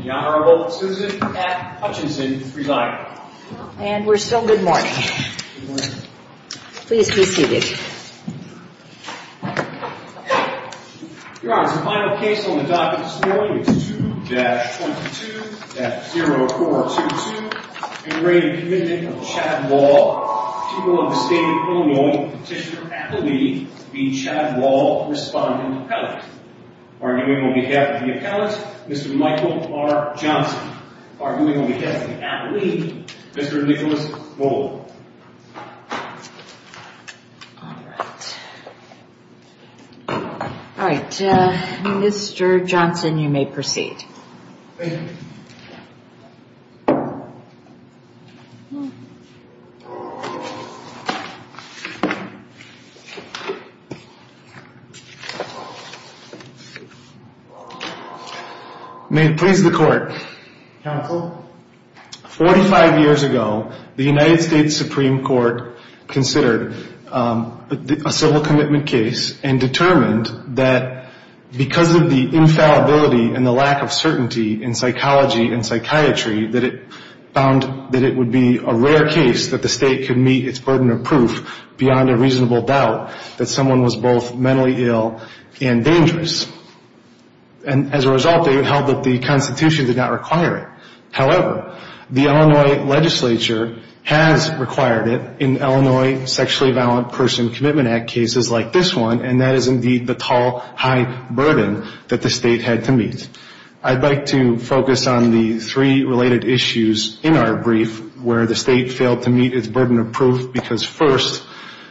The Honorable Susan F. Hutchinson is presiding. And we're still good morning. Please be seated. Your Honor, the final case on the docket this morning is 2-22-0422, integrating the Commitment of Chad Wahl. The people of the state of Illinois petitioner at the lead, being Chad Wahl, respondent appellate. Arguing on behalf of the appellate, Mr. Michael R. Johnson. Arguing on behalf of the appellate, Mr. Nicholas Gold. All right. All right, Mr. Johnson, you may proceed. Thank you. May it please the Court. Counsel. Forty-five years ago, the United States Supreme Court considered a civil commitment case and determined that because of the infallibility and the lack of certainty in psychology and psychiatry, that it found that it would be a rare case that the state could meet its burden of proof beyond a reasonable doubt that someone was both mentally ill and dangerous. And as a result, they held that the Constitution did not require it. However, the Illinois legislature has required it in Illinois Sexually Violent Persons Commitment Act cases like this one, and that is indeed the tall, high burden that the state had to meet. I'd like to focus on the three related issues in our brief where the state failed to meet its burden of proof because, first,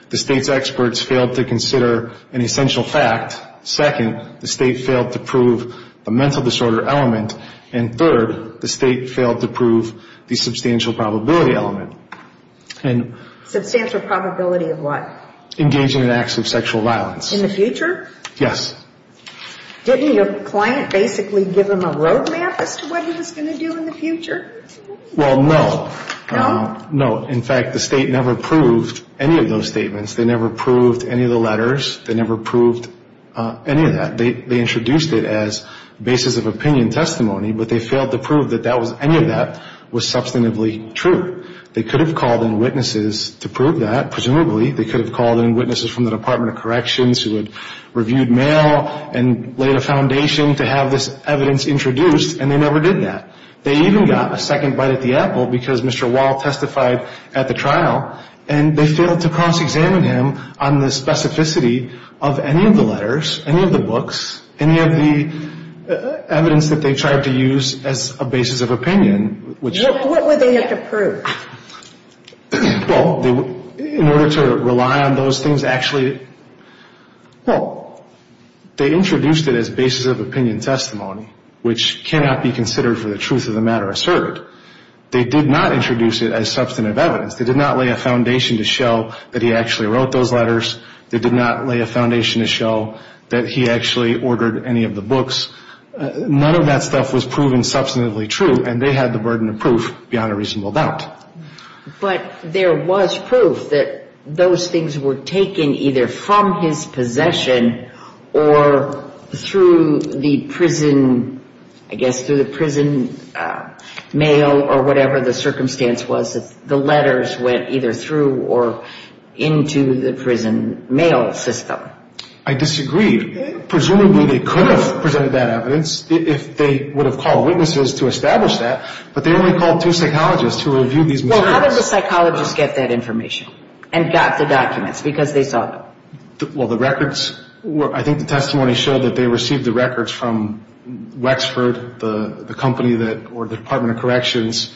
the state's experts failed to consider an essential fact. Second, the state failed to prove the mental disorder element. And third, the state failed to prove the substantial probability element. Substantial probability of what? Engaging in acts of sexual violence. In the future? Yes. Didn't your client basically give him a roadmap as to what he was going to do in the future? Well, no. No? No. In fact, the state never proved any of those statements. They never proved any of the letters. They never proved any of that. They introduced it as basis of opinion testimony, but they failed to prove that any of that was substantively true. They could have called in witnesses to prove that, presumably. They could have called in witnesses from the Department of Corrections who had reviewed mail and laid a foundation to have this evidence introduced, and they never did that. They even got a second bite at the apple because Mr. Wall testified at the trial, and they failed to cross-examine him on the specificity of any of the letters, any of the books, any of the evidence that they tried to use as a basis of opinion. What would they have to prove? Well, in order to rely on those things, actually, well, they introduced it as basis of opinion testimony, which cannot be considered for the truth of the matter asserted. They did not introduce it as substantive evidence. They did not lay a foundation to show that he actually wrote those letters. They did not lay a foundation to show that he actually ordered any of the books. None of that stuff was proven substantively true, and they had the burden of proof beyond a reasonable doubt. But there was proof that those things were taken either from his possession or through the prison, I guess, through the prison mail or whatever the circumstance was that the letters went either through or into the prison mail system. I disagree. Presumably, they could have presented that evidence if they would have called witnesses to establish that, but they only called two psychologists who reviewed these materials. Well, how did the psychologists get that information and got the documents because they saw them? Well, the records, I think the testimony showed that they received the records from Wexford, the company that, or the Department of Corrections,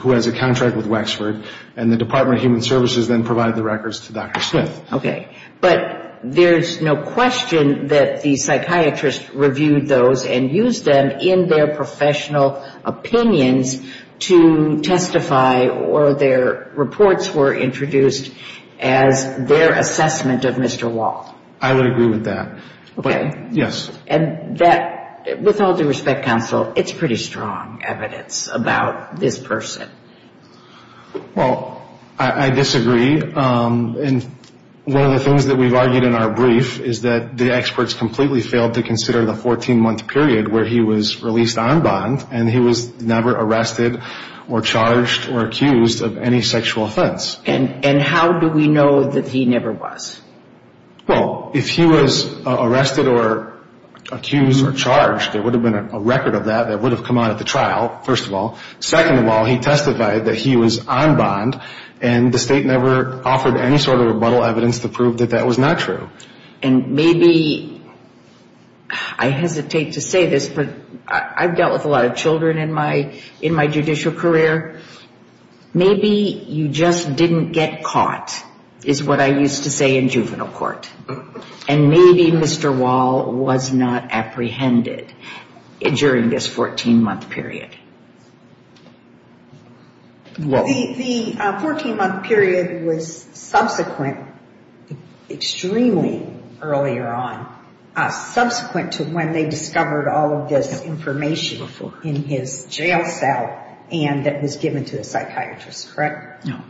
who has a contract with Wexford, and the Department of Human Services then provided the records to Dr. Smith. Okay. But there's no question that the psychiatrists reviewed those and used them in their professional opinions to testify or their reports were introduced as their assessment of Mr. Wall. I would agree with that. Okay. Yes. And that, with all due respect, Counsel, it's pretty strong evidence about this person. Well, I disagree. And one of the things that we've argued in our brief is that the experts completely failed to consider the 14-month period where he was released armband and he was never arrested or charged or accused of any sexual offense. And how do we know that he never was? Well, if he was arrested or accused or charged, there would have been a record of that that would have come out at the trial, first of all. Second of all, he testified that he was armband and the state never offered any sort of rebuttal evidence to prove that that was not true. And maybe, I hesitate to say this, but I've dealt with a lot of children in my judicial career. Maybe you just didn't get caught, is what I used to say in juvenile court. And maybe Mr. Wall was not apprehended during this 14-month period. The 14-month period was subsequent, extremely earlier on, subsequent to when they discovered all of this information in his jail cell and that was given to a psychiatrist, correct? No.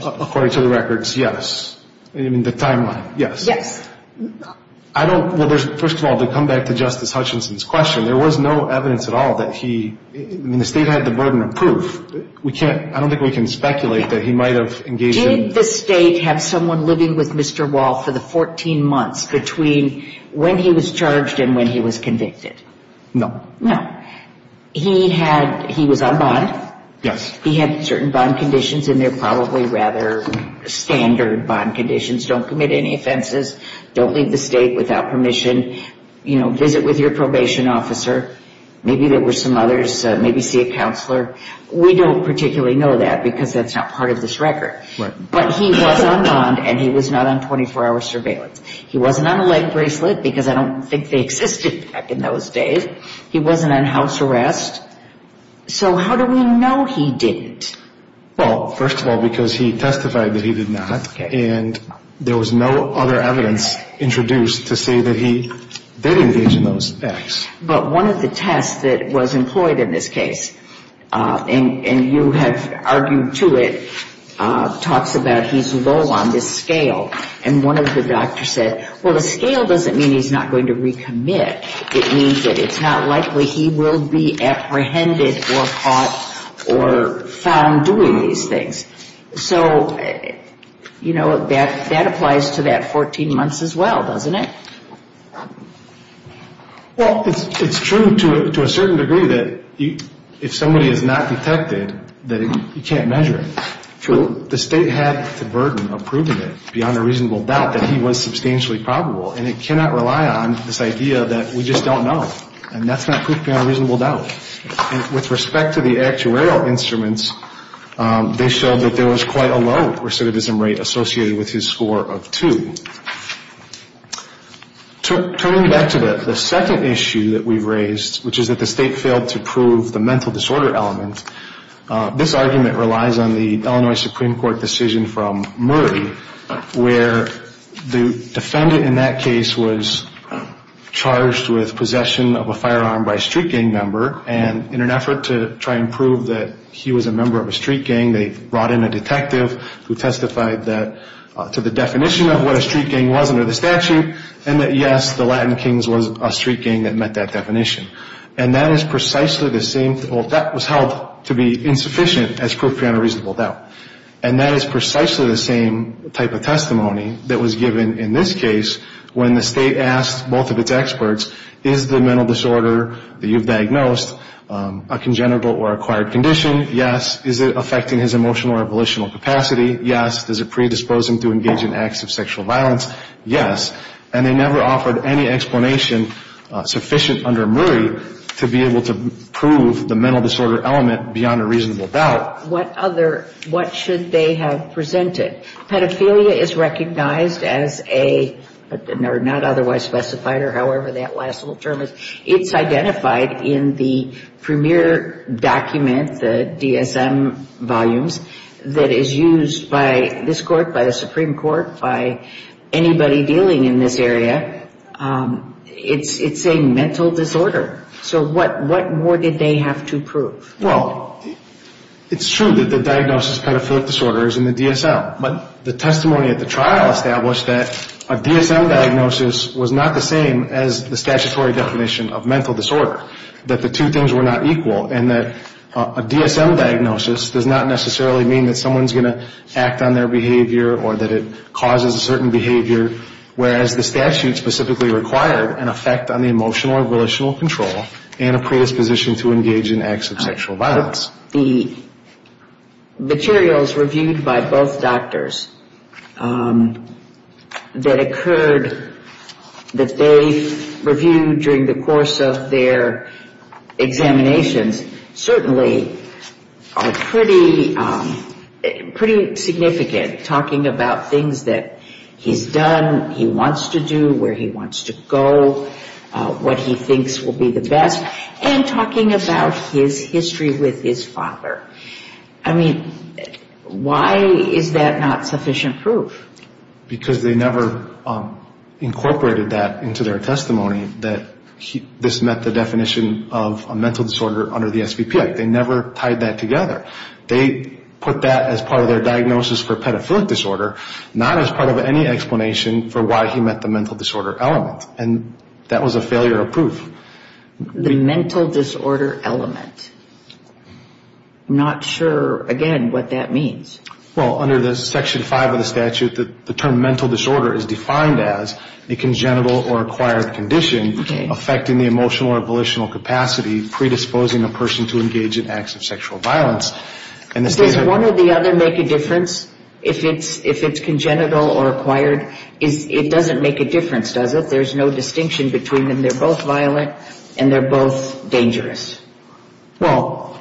According to the records, yes. I mean, the timeline, yes. Yes. I don't, well, first of all, to come back to Justice Hutchinson's question, there was no evidence at all that he, I mean, the state had the burden of proof. We can't, I don't think we can speculate that he might have engaged in... Did the state have someone living with Mr. Wall for the 14 months between when he was charged and when he was convicted? No. No. He had, he was armband. Yes. He had certain bond conditions and they're probably rather standard bond conditions. Don't commit any offenses. Don't leave the state without permission. You know, visit with your probation officer. Maybe there were some others. Maybe see a counselor. We don't particularly know that because that's not part of this record. Right. But he was armband and he was not on 24-hour surveillance. He wasn't on a leg bracelet because I don't think they existed back in those days. He wasn't on house arrest. So how do we know he didn't? Well, first of all, because he testified that he did not and there was no other evidence introduced to say that he did engage in those acts. But one of the tests that was employed in this case, and you have argued to it, talks about he's low on this scale. And one of the doctors said, well, the scale doesn't mean he's not going to recommit. It means that it's not likely he will be apprehended or caught or found doing these things. So, you know, that applies to that 14 months as well, doesn't it? Well, it's true to a certain degree that if somebody is not detected, that you can't measure it. True. The state had the burden of proving it beyond a reasonable doubt that he was substantially probable. And it cannot rely on this idea that we just don't know. And that's not proof beyond a reasonable doubt. With respect to the actuarial instruments, they showed that there was quite a low recidivism rate associated with his score of two. Turning back to the second issue that we've raised, which is that the state failed to prove the mental disorder element, this argument relies on the Illinois Supreme Court decision from Murray where the defendant in that case was charged with possession of a firearm by a street gang member. And in an effort to try and prove that he was a member of a street gang, they brought in a detective who testified to the definition of what a street gang was under the statute and that, yes, the Latin Kings was a street gang that met that definition. And that is precisely the same. Well, that was held to be insufficient as proof beyond a reasonable doubt. And that is precisely the same type of testimony that was given in this case when the state asked both of its experts, is the mental disorder that you've diagnosed a congenital or acquired condition? Yes. Is it affecting his emotional or volitional capacity? Yes. Does it predispose him to engage in acts of sexual violence? Yes. And they never offered any explanation sufficient under Murray to be able to prove the mental disorder element beyond a reasonable doubt. What other, what should they have presented? Pedophilia is recognized as a, or not otherwise specified, or however that last little term is, it's identified in the premier document, the DSM volumes, that is used by this court, by the Supreme Court, by anybody dealing in this area. It's a mental disorder. So what more did they have to prove? Well, it's true that the diagnosis of pedophilic disorder is in the DSM. But the testimony at the trial established that a DSM diagnosis was not the same as the statutory definition of mental disorder, that the two things were not equal, and that a DSM diagnosis does not necessarily mean that someone's going to act on their behavior or that it causes a certain behavior, whereas the statute specifically required an effect on the emotional or volitional control and a predisposition to engage in acts of sexual violence. The materials reviewed by both doctors that occurred, that they reviewed during the course of their examinations, certainly are pretty significant, talking about things that he's done, he wants to do, where he wants to go, what he thinks will be the best, and talking about his history with his father. I mean, why is that not sufficient proof? Because they never incorporated that into their testimony, that this met the definition of a mental disorder under the SVP Act. They never tied that together. They put that as part of their diagnosis for pedophilic disorder, not as part of any explanation for why he met the mental disorder element. And that was a failure of proof. The mental disorder element. I'm not sure, again, what that means. Well, under Section 5 of the statute, the term mental disorder is defined as a congenital or acquired condition affecting the emotional or volitional capacity, predisposing a person to engage in acts of sexual violence. Does one or the other make a difference if it's congenital or acquired? It doesn't make a difference, does it? There's no distinction between them. They're both violent, and they're both dangerous. Well,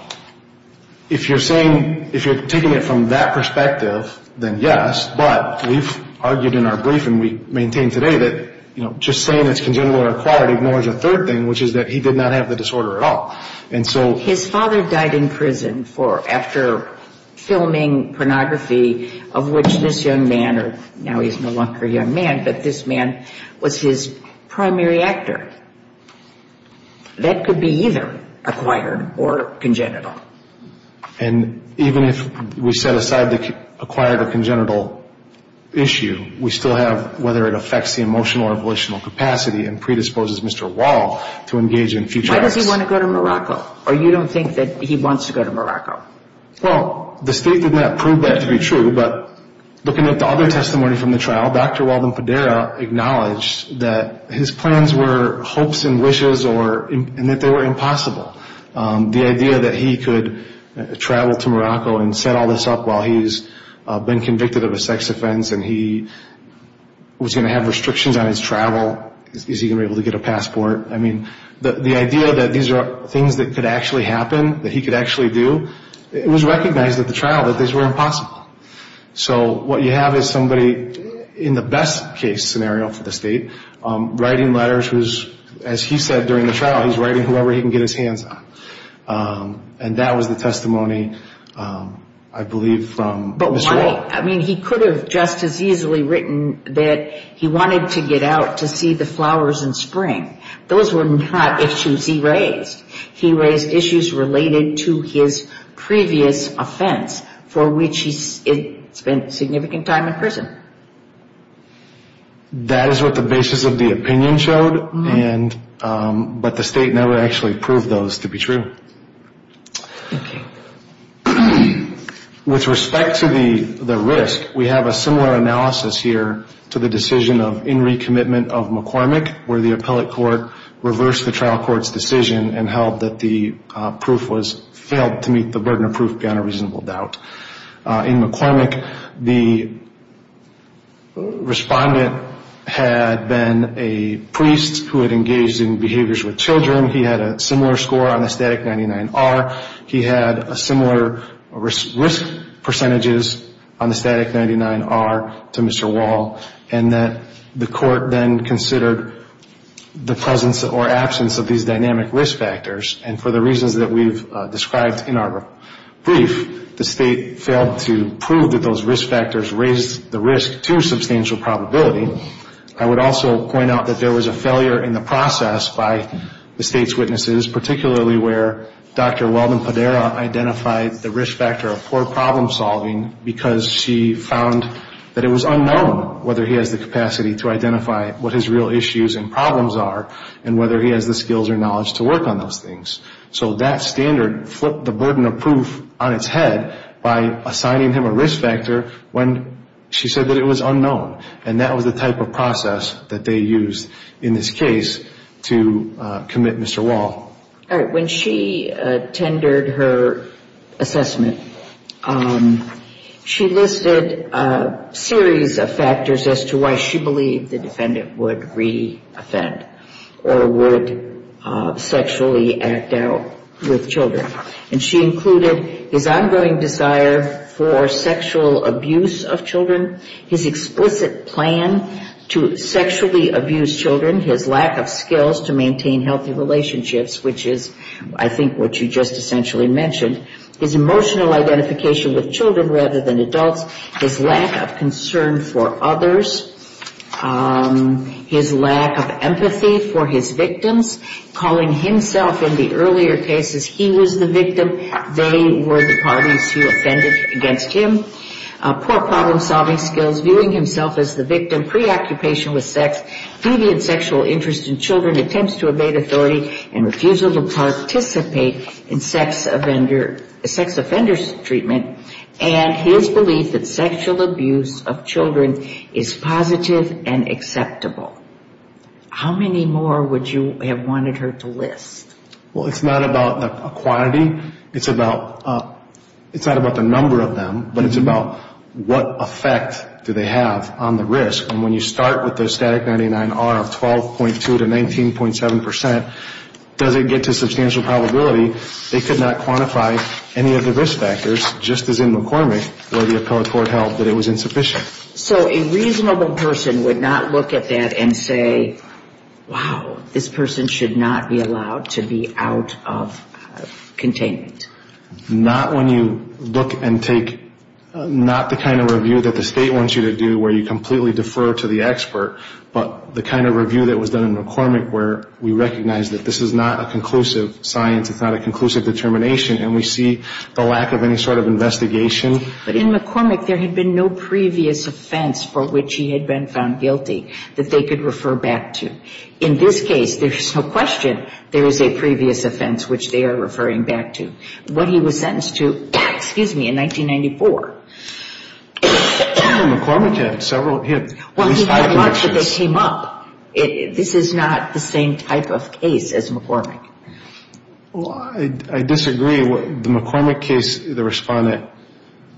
if you're saying, if you're taking it from that perspective, then yes. But we've argued in our brief, and we maintain today, that just saying it's congenital or acquired ignores a third thing, which is that he did not have the disorder at all. His father died in prison after filming pornography, of which this young man, now he's no longer a young man, but this man was his primary actor. That could be either acquired or congenital. And even if we set aside the acquired or congenital issue, we still have whether it affects the emotional or volitional capacity and predisposes Mr. Wall to engage in future acts. Why does he want to go to Morocco? Or you don't think that he wants to go to Morocco? Well, the state did not prove that to be true, but looking at the other testimony from the trial, Dr. Walden-Padera acknowledged that his plans were hopes and wishes and that they were impossible. The idea that he could travel to Morocco and set all this up while he's been convicted of a sex offense and he was going to have restrictions on his travel, is he going to be able to get a passport? I mean, the idea that these are things that could actually happen, that he could actually do, it was recognized at the trial that these were impossible. So what you have is somebody, in the best case scenario for the state, writing letters who's, as he said during the trial, he's writing whoever he can get his hands on. And that was the testimony, I believe, from Mr. Wall. But why? I mean, he could have just as easily written that he wanted to get out to see the flowers in spring. Those were not issues he raised. He raised issues related to his previous offense, for which he spent significant time in prison. That is what the basis of the opinion showed, but the state never actually proved those to be true. With respect to the risk, we have a similar analysis here to the decision of in re-commitment of McCormick, where the appellate court reversed the trial court's decision and held that the proof was failed to meet the burden of proof beyond a reasonable doubt. In McCormick, the respondent had been a priest who had engaged in behaviors with children. He had a similar score on the static 99R. He had similar risk percentages on the static 99R to Mr. Wall, and that the court then considered the presence or absence of these dynamic risk factors. And for the reasons that we've described in our brief, the state failed to prove that those risk factors raised the risk to substantial probability. I would also point out that there was a failure in the process by the state's witnesses, particularly where Dr. Weldon-Padera identified the risk factor of poor problem solving because she found that it was unknown whether he has the capacity to identify what his real issues and problems are and whether he has the skills or knowledge to work on those things. So that standard flipped the burden of proof on its head by assigning him a risk factor when she said that it was unknown, and that was the type of process that they used in this case to commit Mr. Wall. All right. When she tendered her assessment, she listed a series of factors as to why she believed the defendant would re-offend or would sexually act out with children, and she included his ongoing desire for sexual abuse of children, his explicit plan to sexually abuse children, his lack of skills to maintain healthy relationships, which is I think what you just essentially mentioned, his emotional identification with children rather than adults, his lack of concern for others, his lack of empathy for his victims, calling himself in the earlier cases he was the victim, they were the parties he offended against him, poor problem solving skills, viewing himself as the victim, preoccupation with sex, deviant sexual interest in children, attempts to evade authority, and refusal to participate in sex offender's treatment, and his belief that sexual abuse of children is positive and acceptable. How many more would you have wanted her to list? Well, it's not about the quantity. It's about the number of them, but it's about what effect do they have on the risk, and when you start with the static 99R of 12.2 to 19.7%, does it get to substantial probability? They could not quantify any of the risk factors, just as in McCormick where the appellate court held that it was insufficient. So a reasonable person would not look at that and say, wow, this person should not be allowed to be out of containment. Not when you look and take, not the kind of review that the state wants you to do where you completely defer to the expert, but the kind of review that was done in McCormick where we recognize that this is not a conclusive science, it's not a conclusive determination, and we see the lack of any sort of investigation. But in McCormick, there had been no previous offense for which he had been found guilty that they could refer back to. In this case, there's no question there is a previous offense which they are referring back to. When he was sentenced to, excuse me, in 1994. McCormick had several, he had at least five convictions. Well, he had much that came up. This is not the same type of case as McCormick. Well, I disagree. The McCormick case, the respondent,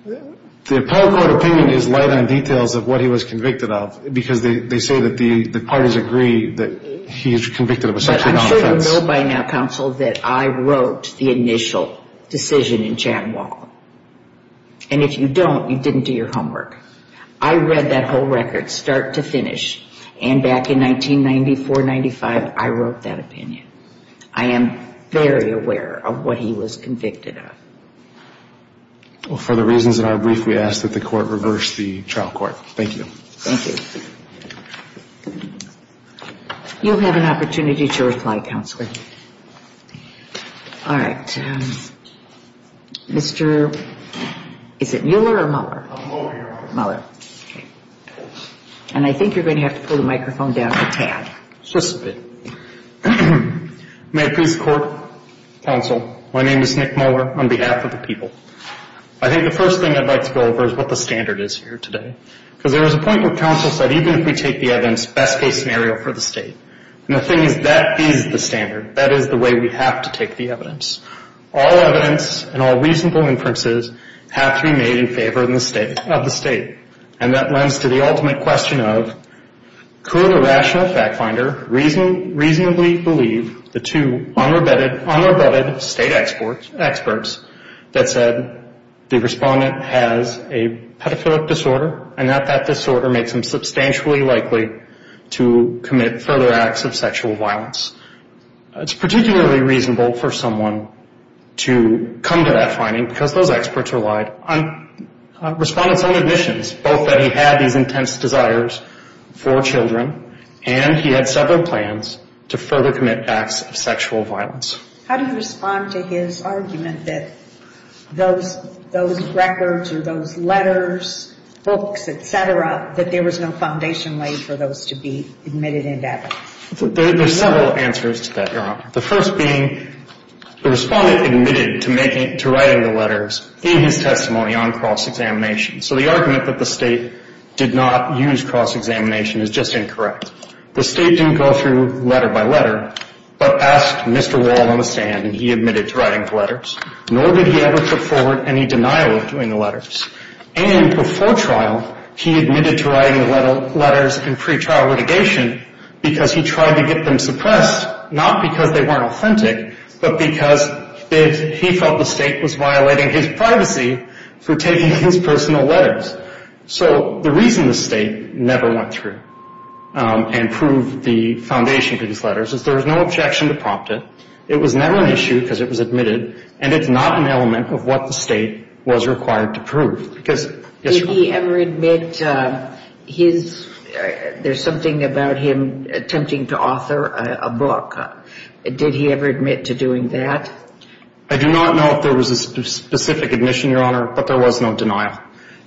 the appellate court opinion is light on details of what he was convicted of because they say that the parties agree that he is convicted of a sexual offense. But I'm sure you know by now, Counsel, that I wrote the initial decision in Chad Wall. And if you don't, you didn't do your homework. I read that whole record start to finish, and back in 1994-95, I wrote that opinion. I am very aware of what he was convicted of. Well, for the reasons in our brief, we ask that the court reverse the trial court. Thank you. Thank you. You'll have an opportunity to reply, Counselor. All right. Mr. Is it Mueller or Mueller? Mueller. Mueller. Okay. And I think you're going to have to pull the microphone down a tad. Just a bit. May it please the Court, Counsel, my name is Nick Mueller on behalf of the people. I think the first thing I'd like to go over is what the standard is here today because there was a point where Counsel said even if we take the evidence, best case scenario for the state. And the thing is that is the standard. That is the way we have to take the evidence. All evidence and all reasonable inferences have to be made in favor of the state. And that lends to the ultimate question of could a rational fact finder reasonably believe the two unrebutted state experts that said the respondent has a pedophilic disorder and that that disorder makes him substantially likely to commit further acts of sexual violence. It's particularly reasonable for someone to come to that finding because those experts relied on respondent's own admissions, both that he had these intense desires for children and he had several plans to further commit acts of sexual violence. How do you respond to his argument that those records or those letters, books, et cetera, that there was no foundation laid for those to be admitted into evidence? There's several answers to that, Your Honor. The first being the respondent admitted to writing the letters in his testimony on cross-examination. So the argument that the state did not use cross-examination is just incorrect. The state didn't go through letter by letter but asked Mr. Wall on the stand and he admitted to writing the letters, nor did he ever put forward any denial of doing the letters. And before trial, he admitted to writing the letters in pretrial litigation because he tried to get them suppressed, not because they weren't authentic, but because he felt the state was violating his privacy for taking his personal letters. So the reason the state never went through and proved the foundation for these letters is there was no objection to prompt it, it was never an issue because it was admitted, and it's not an element of what the state was required to prove. Did he ever admit his, there's something about him attempting to author a book. Did he ever admit to doing that? I do not know if there was a specific admission, Your Honor, but there was no denial.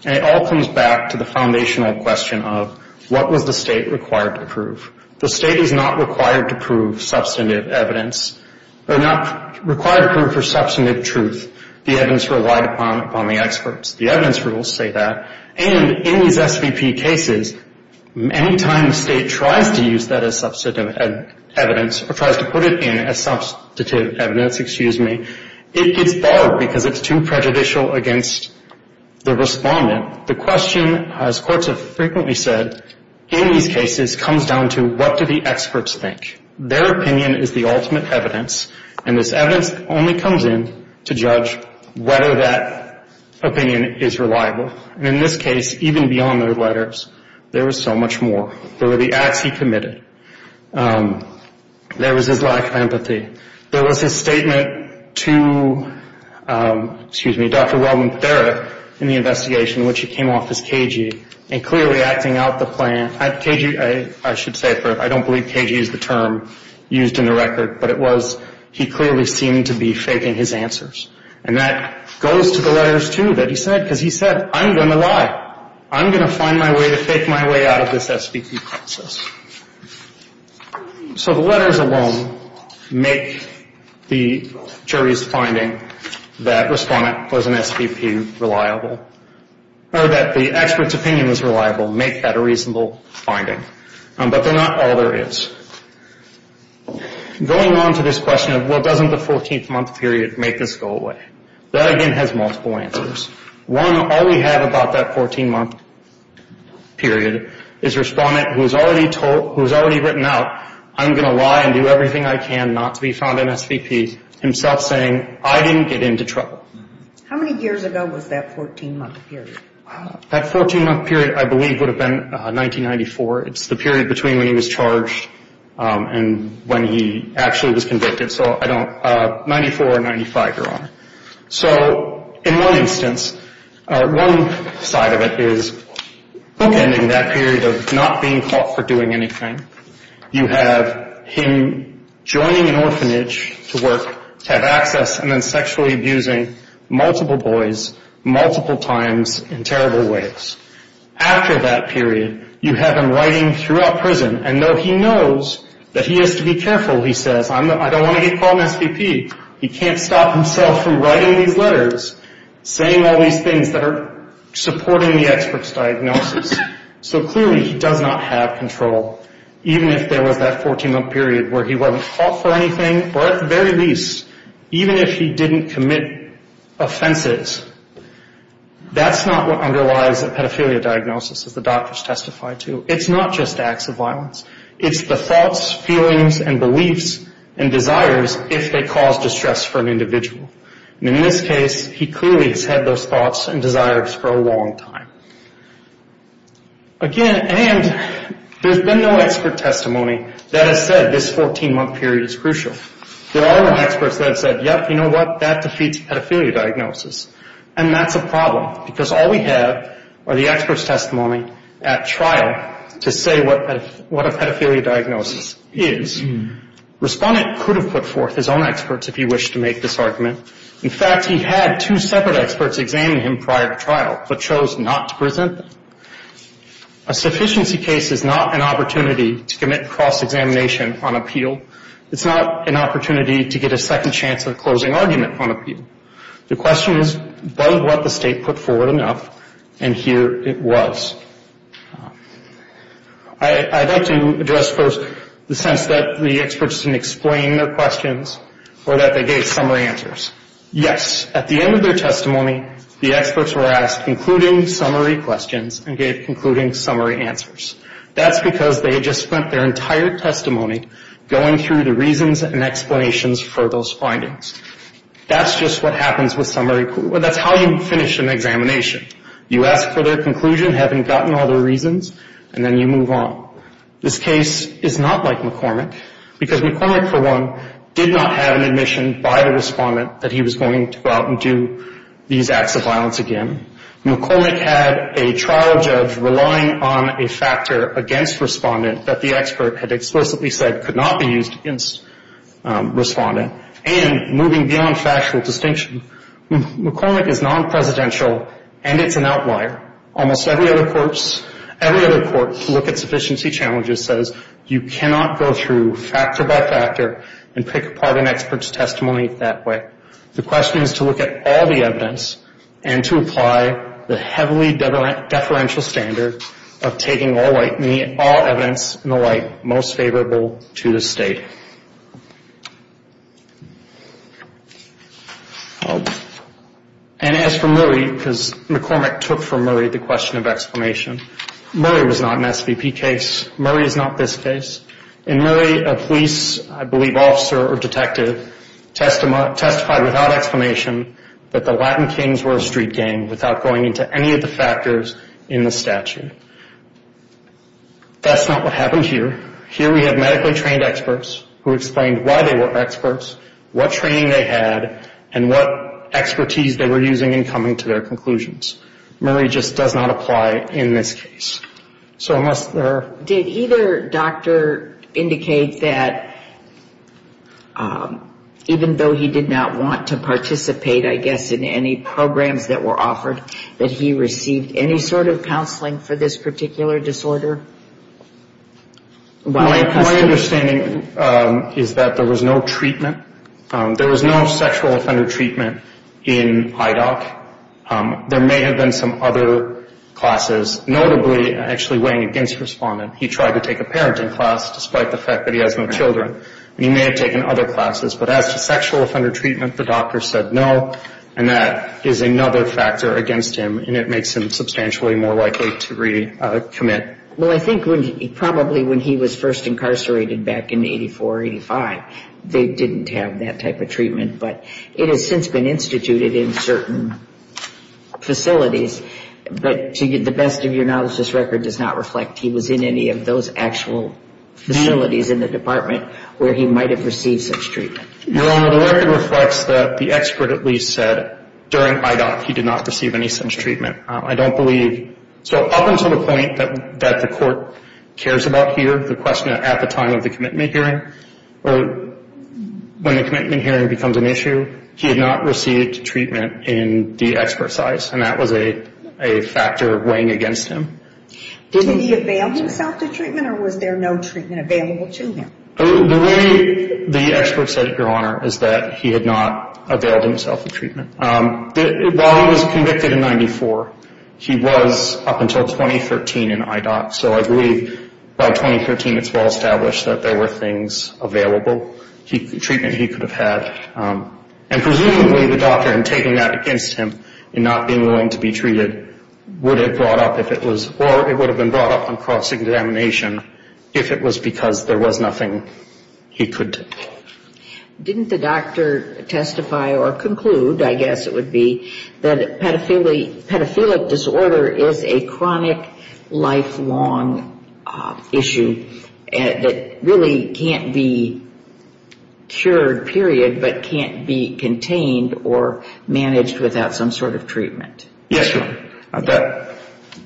And it all comes back to the foundational question of what was the state required to prove. The state is not required to prove substantive evidence, or not required to prove for substantive truth. The evidence relied upon the experts. The evidence rules say that. And in these SVP cases, many times the state tries to use that as substantive evidence, or tries to put it in as substantive evidence, excuse me. It's bad because it's too prejudicial against the respondent. The question, as courts have frequently said, in these cases comes down to what do the experts think. Their opinion is the ultimate evidence, and this evidence only comes in to judge whether that opinion is reliable. And in this case, even beyond those letters, there was so much more. There were the acts he committed. There was his lack of empathy. There was his statement to, excuse me, Dr. Robin Thera, in the investigation, in which he came off as KG, and clearly acting out the plan. KG, I should say for, I don't believe KG is the term used in the record, but it was, he clearly seemed to be faking his answers. And that goes to the letters, too, that he said, because he said, I'm going to lie. I'm going to find my way to fake my way out of this SVP process. So the letters alone make the jury's finding that respondent was an SVP reliable, or that the expert's opinion was reliable, make that a reasonable finding. But they're not all there is. Going on to this question of, well, doesn't the 14-month period make this go away? That, again, has multiple answers. One, all we have about that 14-month period is a respondent who has already written out, I'm going to lie and do everything I can not to be found in SVP, himself saying, I didn't get into trouble. How many years ago was that 14-month period? That 14-month period, I believe, would have been 1994. It's the period between when he was charged and when he actually was convicted. So I don't, 94 or 95, you're on. So in one instance, one side of it is bookending that period of not being caught for doing anything. You have him joining an orphanage to work, to have access, and then sexually abusing multiple boys multiple times in terrible ways. After that period, you have him writing throughout prison, and though he knows that he has to be careful, he says, I don't want to get caught in SVP. He can't stop himself from writing these letters, saying all these things that are supporting the expert's diagnosis. So clearly he does not have control, even if there was that 14-month period where he wasn't caught for anything, or at the very least, even if he didn't commit offenses. That's not what underlies a pedophilia diagnosis, as the doctors testified to. It's not just acts of violence. It's the thoughts, feelings, and beliefs and desires if they cause distress for an individual. And in this case, he clearly has had those thoughts and desires for a long time. Again, and there's been no expert testimony that has said this 14-month period is crucial. There are experts that have said, yep, you know what, that defeats pedophilia diagnosis. And that's a problem, because all we have are the expert's testimony at trial to say what a pedophilia diagnosis is. Respondent could have put forth his own experts if he wished to make this argument. In fact, he had two separate experts examine him prior to trial, but chose not to present them. A sufficiency case is not an opportunity to commit cross-examination on appeal. It's not an opportunity to get a second chance at a closing argument on appeal. The question is, was what the state put forward enough? And here it was. I'd like to address first the sense that the experts didn't explain their questions or that they gave summary answers. Yes, at the end of their testimony, the experts were asked concluding summary questions and gave concluding summary answers. That's because they had just spent their entire testimony going through the reasons and explanations for those findings. That's just what happens with summary questions. That's how you finish an examination. You ask for their conclusion, having gotten all their reasons, and then you move on. This case is not like McCormick, because McCormick, for one, did not have an admission by the respondent that he was going to go out and do these acts of violence again. McCormick had a trial judge relying on a factor against respondent that the expert had explicitly said could not be used against respondent and moving beyond factual distinction. McCormick is non-presidential, and it's an outlier. Almost every other court to look at sufficiency challenges says you cannot go through factor by factor and pick apart an expert's testimony that way. The question is to look at all the evidence and to apply the heavily deferential standard of taking all evidence in the light most favorable to the state. And as for Murray, because McCormick took from Murray the question of explanation, Murray was not an SVP case. Murray is not this case. In Murray, a police, I believe, officer or detective testified without explanation that the Latin Kings were a street gang without going into any of the factors in the statute. That's not what happened here. Here we have medically trained experts who explained why they were experts, what training they had, and what expertise they were using in coming to their conclusions. Murray just does not apply in this case. So unless there are... Did either doctor indicate that even though he did not want to participate, I guess, in any programs that were offered, that he received any sort of counseling for this particular disorder? My understanding is that there was no treatment. There was no sexual offender treatment in IDOC. There may have been some other classes, notably actually weighing against respondent. He tried to take a parenting class despite the fact that he has no children. He may have taken other classes. But as to sexual offender treatment, the doctor said no, and that is another factor against him, and it makes him substantially more likely to recommit. Well, I think probably when he was first incarcerated back in 84, 85, they didn't have that type of treatment. But it has since been instituted in certain facilities. But to the best of your knowledge, this record does not reflect he was in any of those actual facilities in the department where he might have received such treatment. Your Honor, the record reflects that the expert at least said during IDOC he did not receive any such treatment. I don't believe... So up until the point that the court cares about here, the question at the time of the commitment hearing, when the commitment hearing becomes an issue, he had not received treatment in the expert size, and that was a factor weighing against him. Did he avail himself of treatment, or was there no treatment available to him? The way the expert said it, Your Honor, is that he had not availed himself of treatment. While he was convicted in 94, he was up until 2013 in IDOC. So I believe by 2013 it's well established that there were things available, treatment he could have had. And presumably the doctor, in taking that against him in not being willing to be treated, would have brought up if it was, or it would have been brought up on cross-examination if it was because there was nothing he could do. Didn't the doctor testify or conclude, I guess it would be, that pedophilic disorder is a chronic, lifelong issue that really can't be cured, period, but can't be contained or managed without some sort of treatment? Yes, Your Honor, I bet.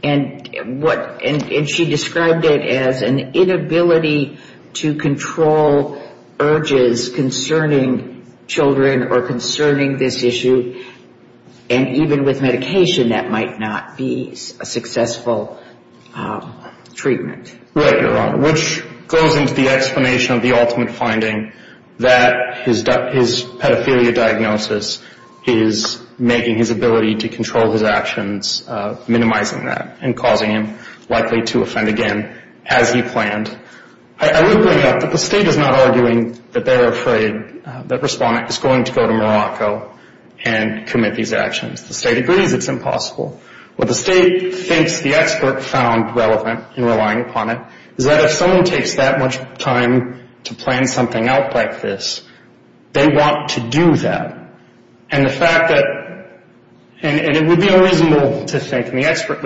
And she described it as an inability to control urges concerning children or concerning this issue, and even with medication that might not be a successful treatment. Right, Your Honor, which goes into the explanation of the ultimate finding, that his pedophilia diagnosis is making his ability to control his actions, minimizing that, and causing him likely to offend again, as he planned. I would bring it up that the State is not arguing that they're afraid, that Respondent is going to go to Morocco and commit these actions. The State agrees it's impossible. What the State thinks the expert found relevant in relying upon it is that if someone takes that much time to plan something out like this, they want to do that. And the fact that, and it would be unreasonable to think, and the expert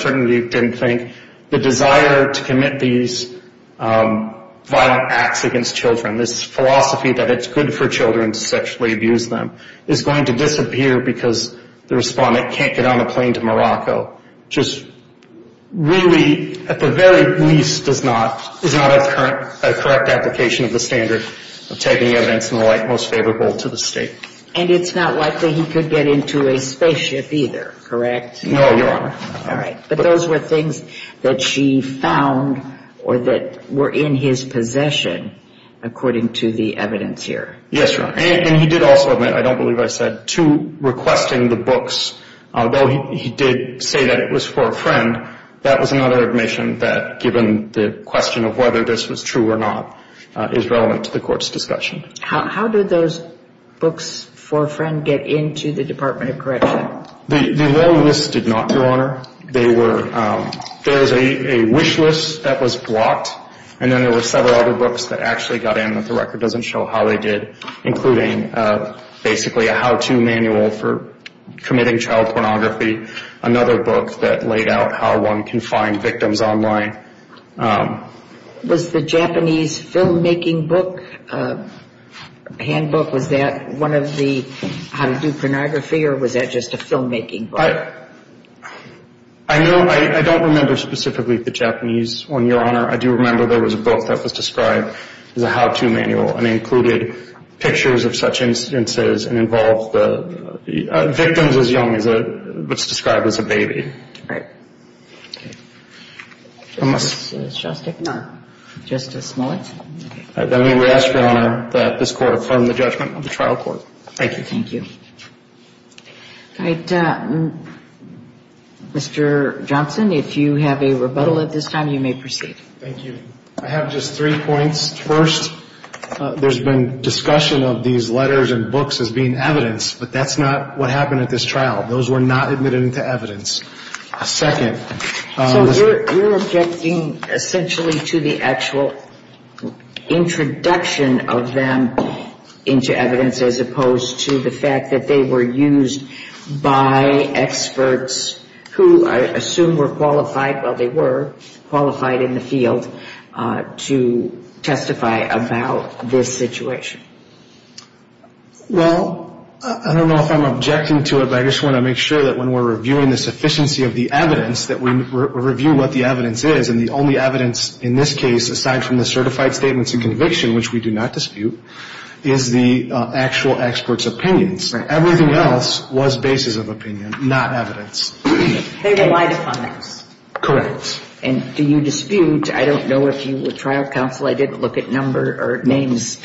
certainly didn't think the desire to commit these violent acts against children, this philosophy that it's good for children to sexually abuse them, is going to disappear because the Respondent can't get on a plane to Morocco, just really, at the very least, is not a correct application of the standard of taking events and the like most favorable to the State. And it's not likely he could get into a spaceship either, correct? No, Your Honor. All right. But those were things that she found or that were in his possession, according to the evidence here. Yes, Your Honor. And he did also admit, I don't believe I said, to requesting the books, although he did say that it was for a friend, that was another admission that, given the question of whether this was true or not, is relevant to the Court's discussion. How did those books for a friend get into the Department of Corrections? The list did not, Your Honor. There was a wish list that was blocked, and then there were several other books that actually got in, but the record doesn't show how they did, including basically a how-to manual for committing child pornography, another book that laid out how one can find victims online. Was the Japanese filmmaking book, handbook, was that one of the how to do pornography, or was that just a filmmaking book? I don't remember specifically the Japanese one, Your Honor. I do remember there was a book that was described as a how-to manual and included pictures of such instances and involved victims as young as what's described as a baby. All right. Okay. Justice Shostak? No. Justice Smollett? All right. Let me ask, Your Honor, that this Court affirm the judgment of the trial court. Thank you. Thank you. All right. Mr. Johnson, if you have a rebuttal at this time, you may proceed. Thank you. I have just three points. First, there's been discussion of these letters and books as being evidence, but that's not what happened at this trial. Those were not admitted into evidence. Second. So you're objecting essentially to the actual introduction of them into evidence as opposed to the fact that they were used by experts who I assume were qualified, well, they were qualified in the field, to testify about this situation. Well, I don't know if I'm objecting to it, but I just want to make sure that when we're reviewing the sufficiency of the evidence, that we review what the evidence is. And the only evidence in this case, aside from the certified statements and conviction, which we do not dispute, is the actual expert's opinions. Right. Everything else was basis of opinion, not evidence. They relied upon this. Correct. And do you dispute, I don't know if you were trial counsel, I didn't look at number or names,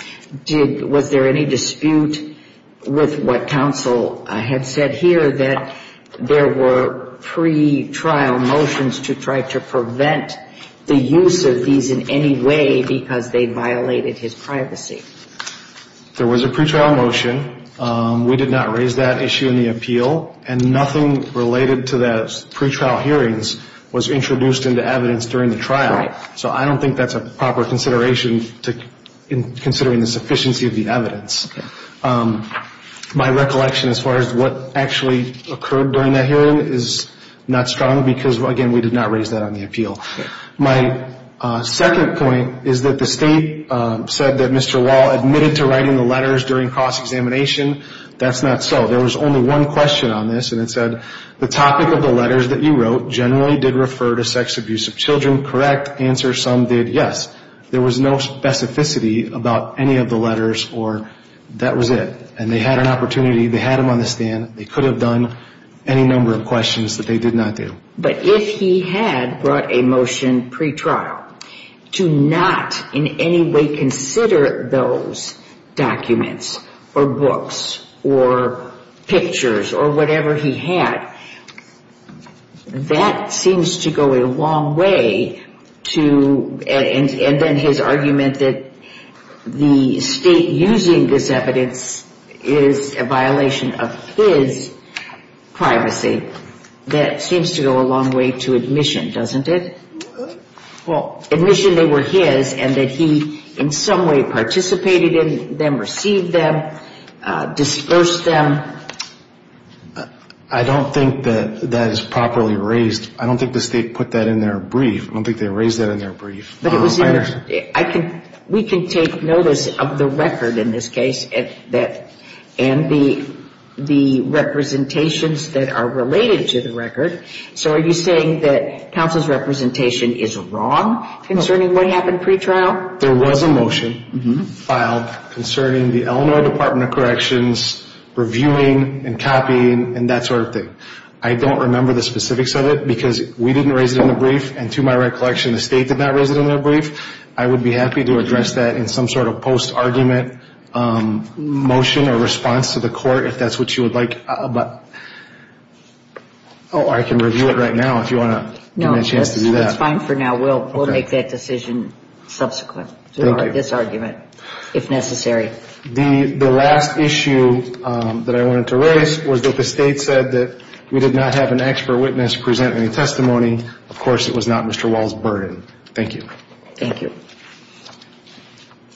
was there any dispute with what counsel had said here, that there were pretrial motions to try to prevent the use of these in any way because they violated his privacy? There was a pretrial motion. We did not raise that issue in the appeal, and nothing related to the pretrial hearings was introduced into evidence during the trial. Right. So I don't think that's a proper consideration in considering the sufficiency of the evidence. Okay. My recollection as far as what actually occurred during that hearing is not strong because, again, we did not raise that on the appeal. Okay. My second point is that the state said that Mr. Wall admitted to writing the letters during cross-examination. That's not so. There was only one question on this, and it said, The topic of the letters that you wrote generally did refer to sex abuse of children, correct? Answer, some did, yes. There was no specificity about any of the letters or that was it. And they had an opportunity, they had him on the stand, they could have done any number of questions that they did not do. But if he had brought a motion pretrial, to not in any way consider those documents or books or pictures or whatever he had, that seems to go a long way to, and then his argument that the state using this evidence is a violation of his privacy, that seems to go a long way to admission, doesn't it? Well, admission they were his, and that he in some way participated in them, received them, dispersed them. I don't think that that is properly raised. I don't think the state put that in their brief. I don't think they raised that in their brief. But it was in their, I can, we can take notice of the record in this case, and the representations that are related to the record. So are you saying that counsel's representation is wrong concerning what happened pretrial? There was a motion filed concerning the Illinois Department of Corrections reviewing and copying and that sort of thing. I don't remember the specifics of it because we didn't raise it in the brief, and to my recollection the state did not raise it in their brief. I would be happy to address that in some sort of post-argument motion or response to the court if that's what you would like. But, oh, I can review it right now if you want to give me a chance to do that. No, that's fine for now. We'll make that decision subsequent to this argument if necessary. The last issue that I wanted to raise was that the state said that we did not have an expert witness present any testimony. Of course, it was not Mr. Wall's burden. Thank you. Thank you.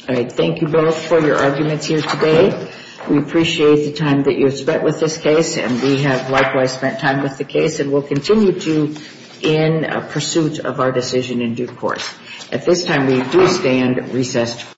All right, thank you both for your arguments here today. We appreciate the time that you have spent with this case, and we have likewise spent time with the case and will continue to in pursuit of our decision in due course. At this time, we do stand recessed.